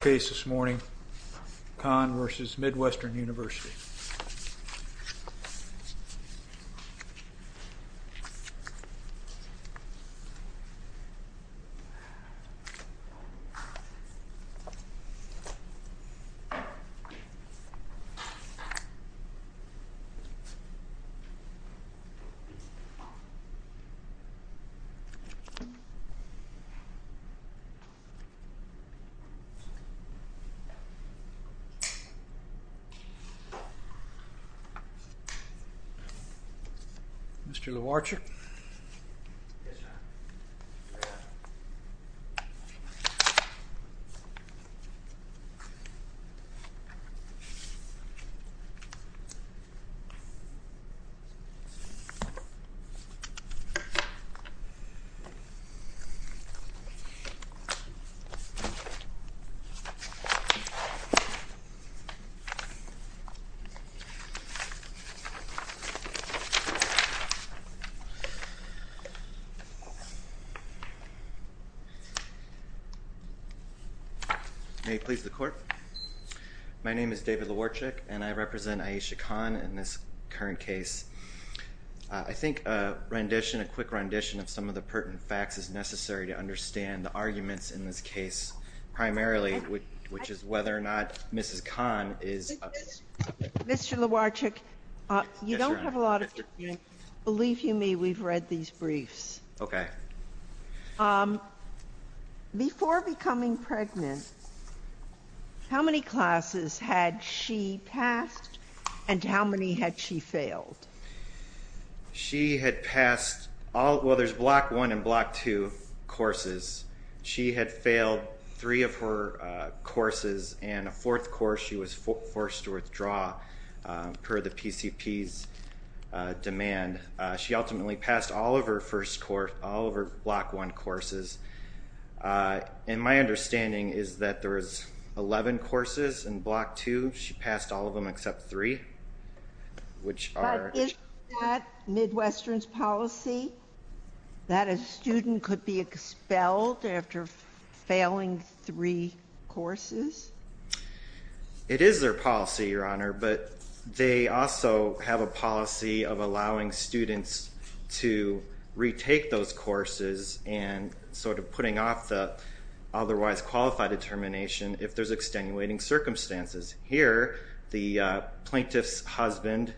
Case this morning, Khan v. Midwestern University Mr. Lovarczyk May it please the court. My name is David Lovarczyk and I represent Ayesha Khan in this current case. I think a rendition, a quick rendition of some of the pertinent facts is necessary to whether or not Mrs. Khan is a... Mr. Lovarczyk, you don't have a lot of time. Believe you me, we've read these briefs. Okay. Before becoming pregnant, how many classes had she passed and how many had she failed? She had passed all, well there's block one and block two courses. She had failed three of her courses and a fourth course she was forced to withdraw per the PCP's demand. She ultimately passed all of her first course, all of her block one courses. And my understanding is that there was 11 courses in block two. She passed all of them except three. Which are... But is that Midwestern's policy? That a student could be expelled after failing three courses? It is their policy, Your Honor, but they also have a policy of allowing students to retake those courses and sort of putting off the otherwise qualified determination if there's extenuating circumstances. Here, the plaintiff's husband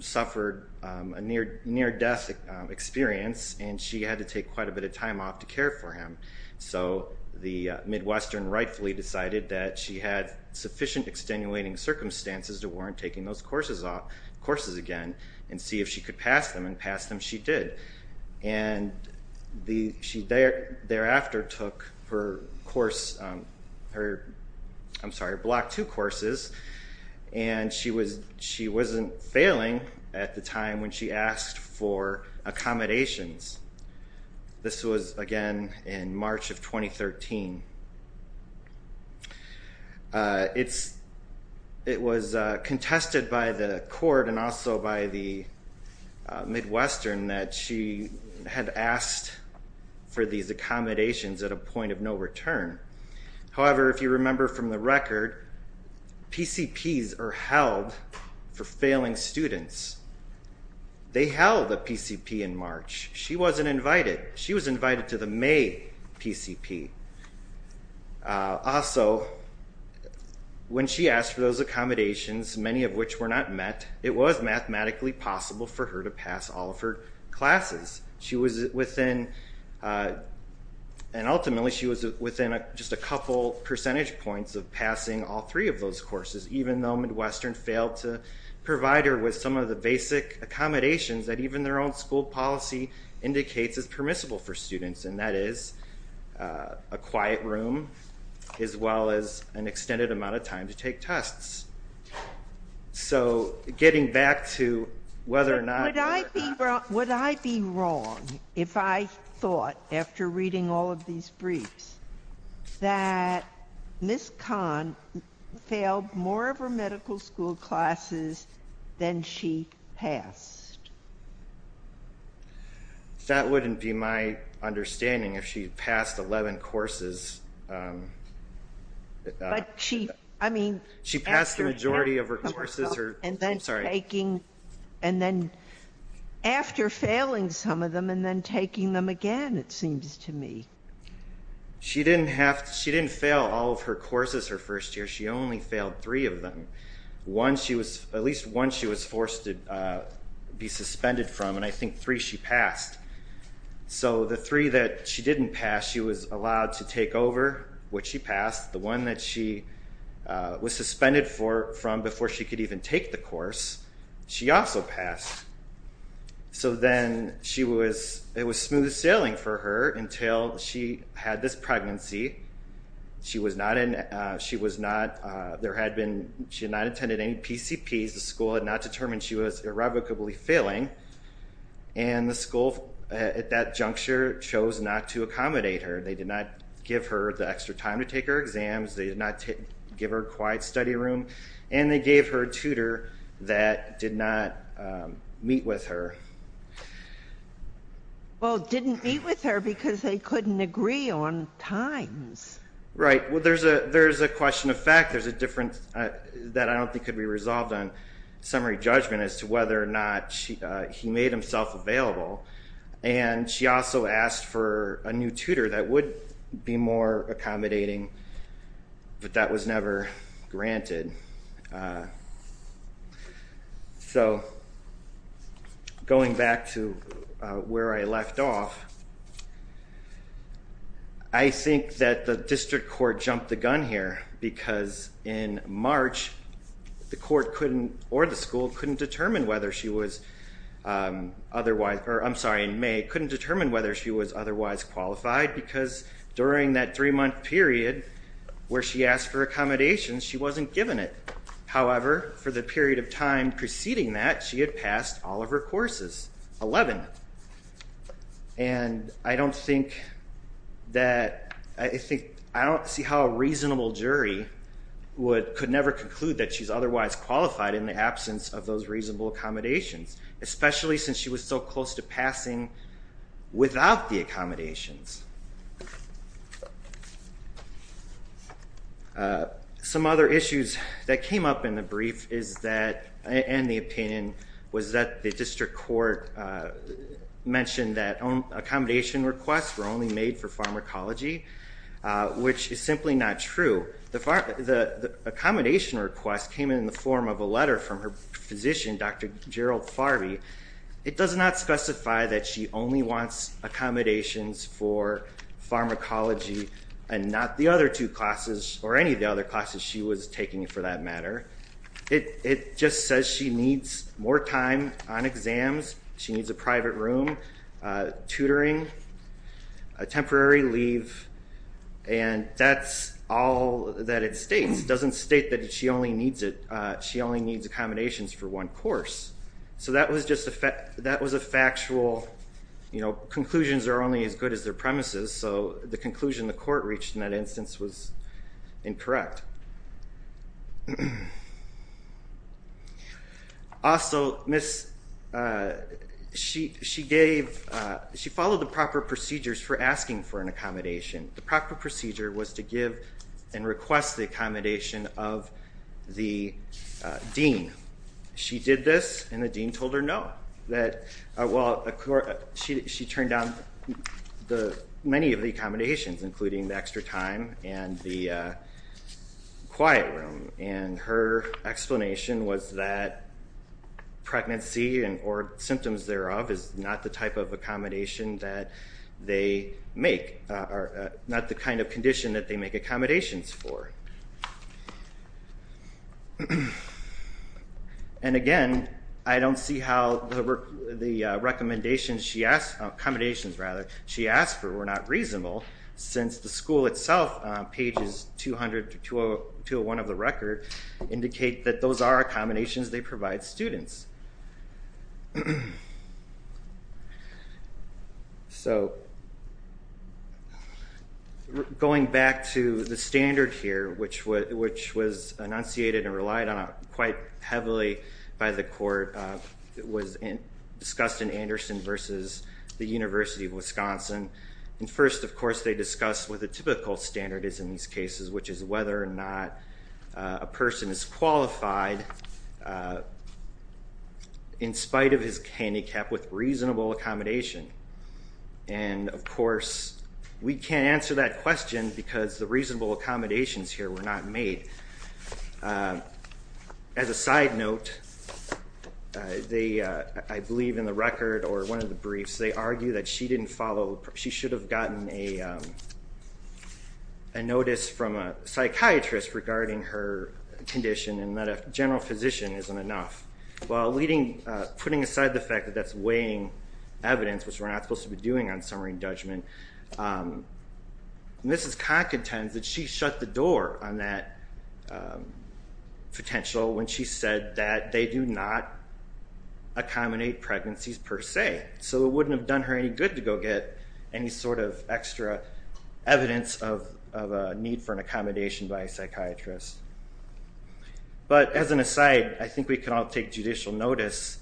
suffered a near-death experience and she had to take quite a bit of time off to care for him. So the Midwestern rightfully decided that she had sufficient extenuating circumstances to warrant taking those courses off, courses again, and see if she could pass them. And pass them she did. And she thereafter took her course, her, I'm sorry, block two courses, and she wasn't failing at the time when she asked for accommodations. This was, again, in March of 2013. It was contested by the court and also by the Midwestern that she had asked for these accommodations at a point of no return. However, if you remember from the record, PCPs are held for failing students. They held a PCP in March. She wasn't invited. She was invited to the May PCP. Also when she asked for those accommodations, many of which were not met, it was mathematically possible for her to pass all of her classes. She was within, and ultimately she was within just a couple percentage points of passing all three of those courses, even though Midwestern failed to provide her with some of the basic accommodations that even their own school policy indicates is permissible for students, and that is a quiet room as well as an extended amount of time to take tests. So getting back to whether or not. Would I be wrong if I thought, after reading all of these briefs, that Ms. Kahn failed more of her medical school classes than she passed? That wouldn't be my understanding if she passed 11 courses. She passed the majority of her courses. After failing some of them and then taking them again, it seems to me. She didn't fail all of her courses her first year. She only failed three of them, at least one she was forced to be suspended from, and I think three she passed. So the three that she didn't pass, she was allowed to take over, which she passed. The one that she was suspended from before she could even take the course, she also passed. So then it was smooth sailing for her until she had this pregnancy. She was not, there had been, she had not attended any PCPs, the school had not determined she was irrevocably failing, and the school at that juncture chose not to accommodate her. They did not give her the extra time to take her exams, they did not give her a quiet study room, and they gave her a tutor that did not meet with her. Well, didn't meet with her because they couldn't agree on times. Right, well there's a question of fact, there's a difference that I don't think could be resolved on summary judgment as to whether or not he made himself available, and she also asked for a new tutor that would be more accommodating, but that was never granted. So, going back to where I left off, I think that the district court jumped the gun here because in March, the court couldn't, or the school couldn't determine whether she was otherwise, or I'm sorry, in May, couldn't determine whether she was otherwise qualified because during that three-month period where she asked for accommodations, she wasn't given it. However, for the period of time preceding that, she had passed all of her courses, 11, and I don't think that, I think, I don't see how a reasonable jury could never conclude that she's otherwise qualified in the absence of those reasonable accommodations, especially since she was so close to passing without the accommodations. Some other issues that came up in the brief is that, and the opinion, was that the district court mentioned that accommodation requests were only made for pharmacology, which is simply not true. The accommodation request came in the form of a letter from her physician, Dr. Gerald Farvey. It does not specify that she only wants accommodations for pharmacology and not the other two classes, or any of the other classes she was taking for that matter. It just says she needs more time on exams, she needs a private room, tutoring, a temporary leave, and that's all that it states. It doesn't state that she only needs it, she only needs accommodations for one course. So that was a factual, conclusions are only as good as their premises, so the conclusion the court reached in that instance was incorrect. Also, she gave, she followed the proper procedures for asking for an accommodation. The proper procedure was to give and request the accommodation of the dean. She did this, and the dean told her no. She turned down many of the accommodations, including the extra time and the quiet room, and her explanation was that pregnancy or symptoms thereof is not the type of accommodation that they make, not the kind of condition that they make accommodations for. And again, I don't see how the recommendations she asked, accommodations rather, she asked for were not reasonable, since the school itself, pages 200 to 201 of the record, indicate that those are accommodations they provide students. So going back to the standard here, which was enunciated and relied on quite heavily by the court, it was discussed in Anderson versus the University of Wisconsin, and first of course they discussed what the typical standard is in these cases, which is whether or not a person is qualified in spite of his handicap with reasonable accommodation. And of course, we can't answer that question because the reasonable accommodations here were not made. As a side note, I believe in the record or one of the briefs, they argue that she didn't a psychiatrist regarding her condition and that a general physician isn't enough. While putting aside the fact that that's weighing evidence, which we're not supposed to be doing on summary and judgment, Mrs. Kahn contends that she shut the door on that potential when she said that they do not accommodate pregnancies per se. So it wouldn't have done her any good to go get any sort of extra evidence of a need for accommodation by a psychiatrist. But as an aside, I think we can all take judicial notice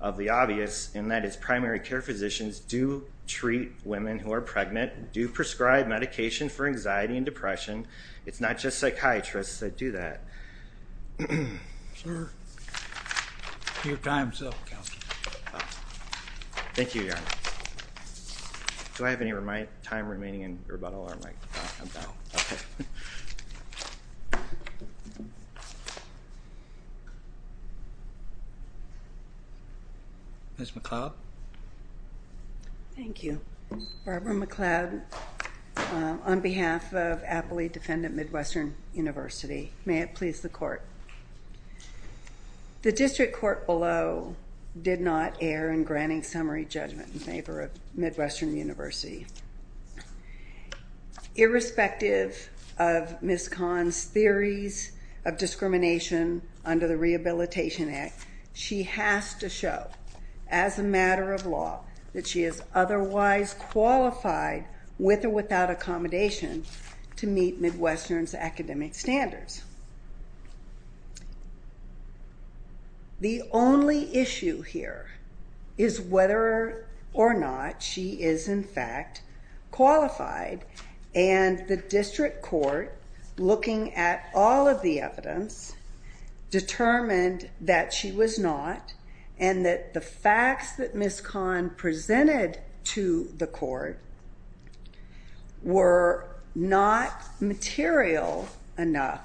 of the obvious, and that is primary care physicians do treat women who are pregnant, do prescribe medication for anxiety and depression. It's not just psychiatrists that do that. Sir, your time is up, Counselor. Thank you, Your Honor. Do I have any time remaining in rebuttal or am I done? Ms. McLeod? Thank you. Barbara McLeod on behalf of Appley Defendant Midwestern University. May it please the Court. The district court below did not err in granting summary judgment in favor of Midwestern University. Irrespective of Ms. Kahn's theories of discrimination under the Rehabilitation Act, she has to show, as a matter of law, that she is otherwise qualified, with or without accommodation, to meet Midwestern's academic standards. The only issue here is whether or not she is, in fact, qualified, and the district court, looking at all of the evidence, determined that she was not and that the facts that Ms. were not material enough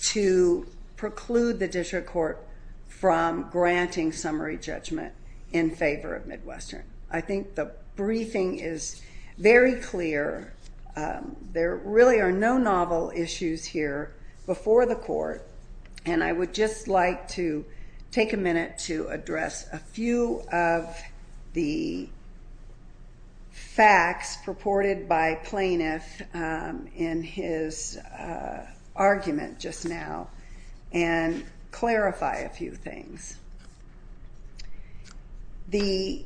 to preclude the district court from granting summary judgment in favor of Midwestern. I think the briefing is very clear. There really are no novel issues here before the court, and I would just like to take a minute to address a few of the facts purported by Plaintiff in his argument just now and clarify a few things. The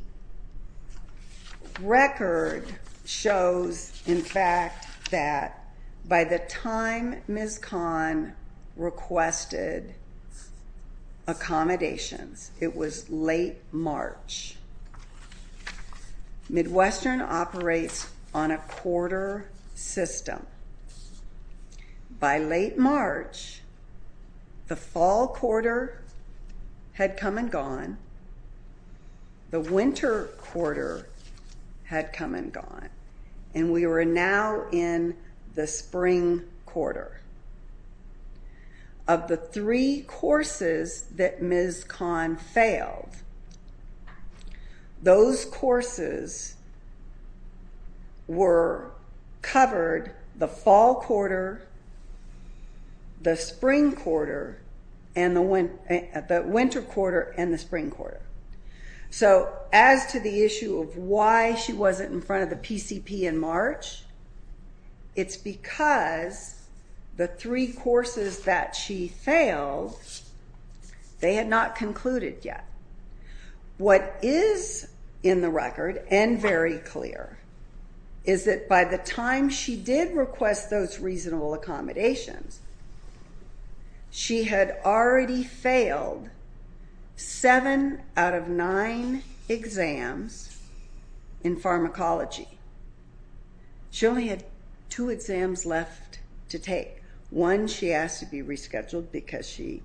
record shows, in fact, that by the time Ms. Kahn requested accommodations, it was late March, Midwestern operates on a quarter system. By late March, the fall quarter had come and gone, the winter quarter had come and gone, and we were now in the spring quarter. Of the three courses that Ms. Kahn failed, those courses were covered the fall quarter, the spring quarter, the winter quarter, and the spring quarter. So as to the issue of why she wasn't in front of the PCP in March, it's because the three courses that she failed, they had not concluded yet. What is in the record and very clear is that by the time she did request those reasonable accommodations, she had already failed seven out of nine exams in pharmacology. She only had two exams left to take. One, she asked to be rescheduled because she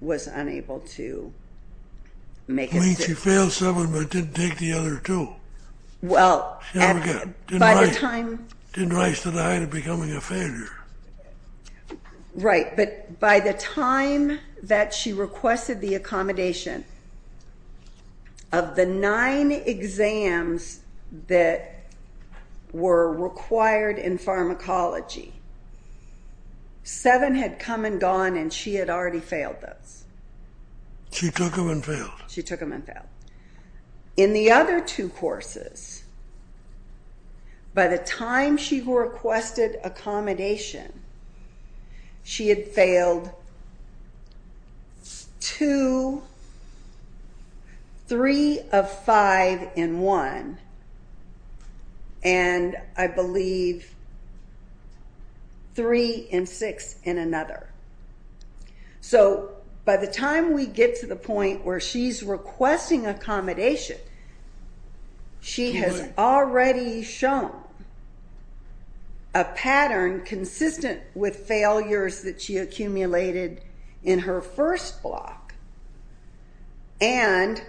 was unable to make it through. She failed seven but didn't take the other two. She didn't rise to the height of becoming a failure. Right, but by the time that she requested the accommodation, of the nine exams that were required in pharmacology, seven had come and gone and she had already failed those. She took them and failed. She took them and failed. In the other two courses, by the time she requested accommodation, she had failed two, three of five in one, and I believe three and six in another. So by the time we get to the point where she's requesting accommodation, she has already shown a pattern consistent with failures that she accumulated in her first block. And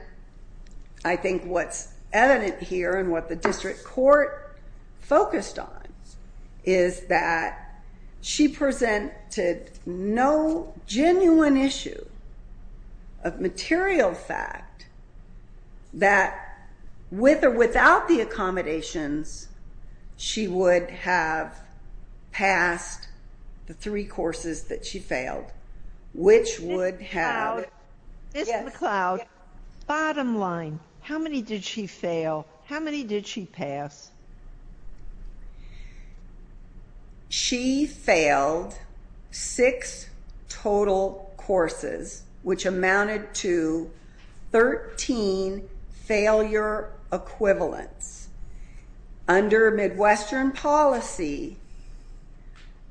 I think what's evident here and what the district court focused on is that she presented no genuine issue of material fact that with or without the accommodations, she would have passed the three courses that she failed, which would have- Ms. McLeod, bottom line, how many did she fail? How many did she pass? She failed six total courses, which amounted to 13 failure equivalents. Under Midwestern policy,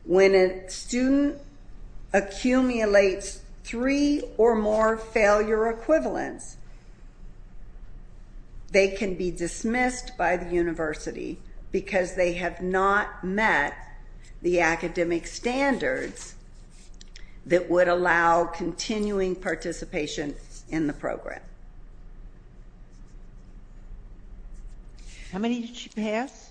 when a student accumulates three or more failure equivalents, they can be dismissed by the university because they have not met the academic standards that would allow continuing participation in the program. How many did she pass?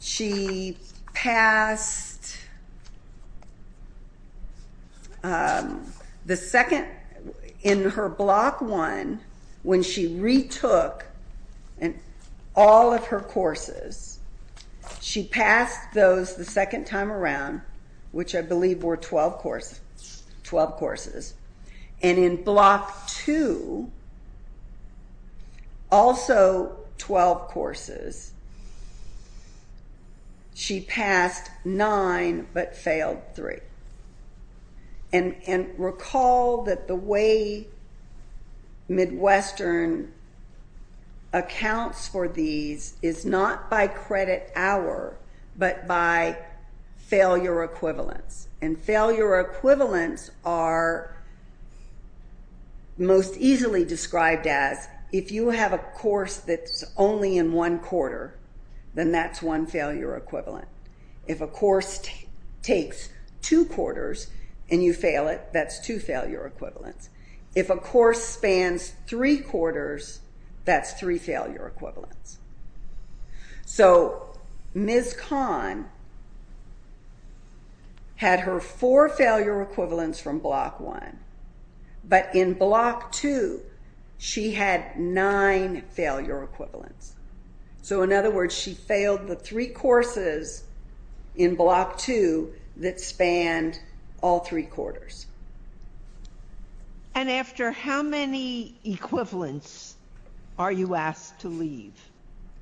She passed the second- In her block one, when she retook all of her courses, she passed those the second time around, which I believe were 12 courses. And in block two, also 12 courses, she passed nine but failed three. And recall that the way Midwestern accounts for these is not by credit hour, but by failure equivalents. And failure equivalents are most easily described as, if you have a course that's only in one quarter, then that's one failure equivalent. If a course takes two quarters and you fail it, that's two failure equivalents. If a course spans three quarters, that's three failure equivalents. So Ms. Kahn had her four failure equivalents from block one, but in block two, she had nine failure equivalents. So in other words, she failed the three courses in block two that spanned all three quarters. And after how many equivalents are you asked to leave?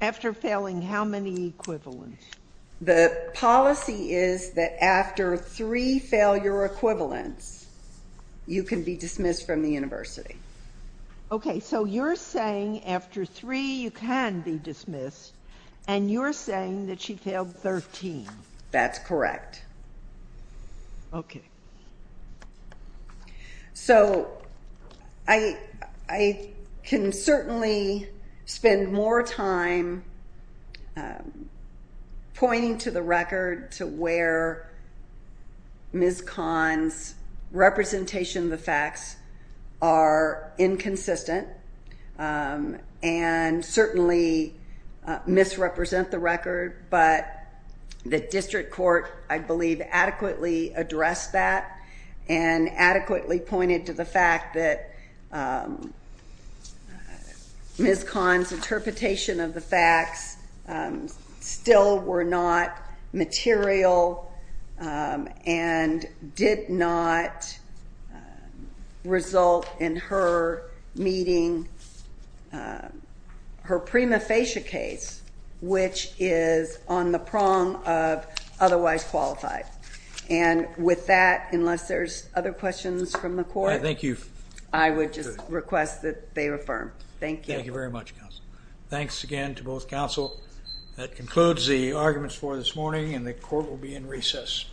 After failing how many equivalents? The policy is that after three failure equivalents, you can be dismissed from the university. Okay, so you're saying after three, you can be dismissed, and you're saying that she failed 13. That's correct. Okay. So I can certainly spend more time pointing to the record to where Ms. Kahn's representation of the facts are inconsistent but the district court, I believe, adequately addressed that and adequately pointed to the fact that Ms. Kahn's interpretation of the facts still were not material and did not result in her meeting her prima facie case, which is on the prong of otherwise qualified. And with that, unless there's other questions from the court, I would just request that they affirm. Thank you. Thank you very much, counsel. Thanks again to both counsel. That concludes the arguments for this morning, and the court will be in recess. Thank you.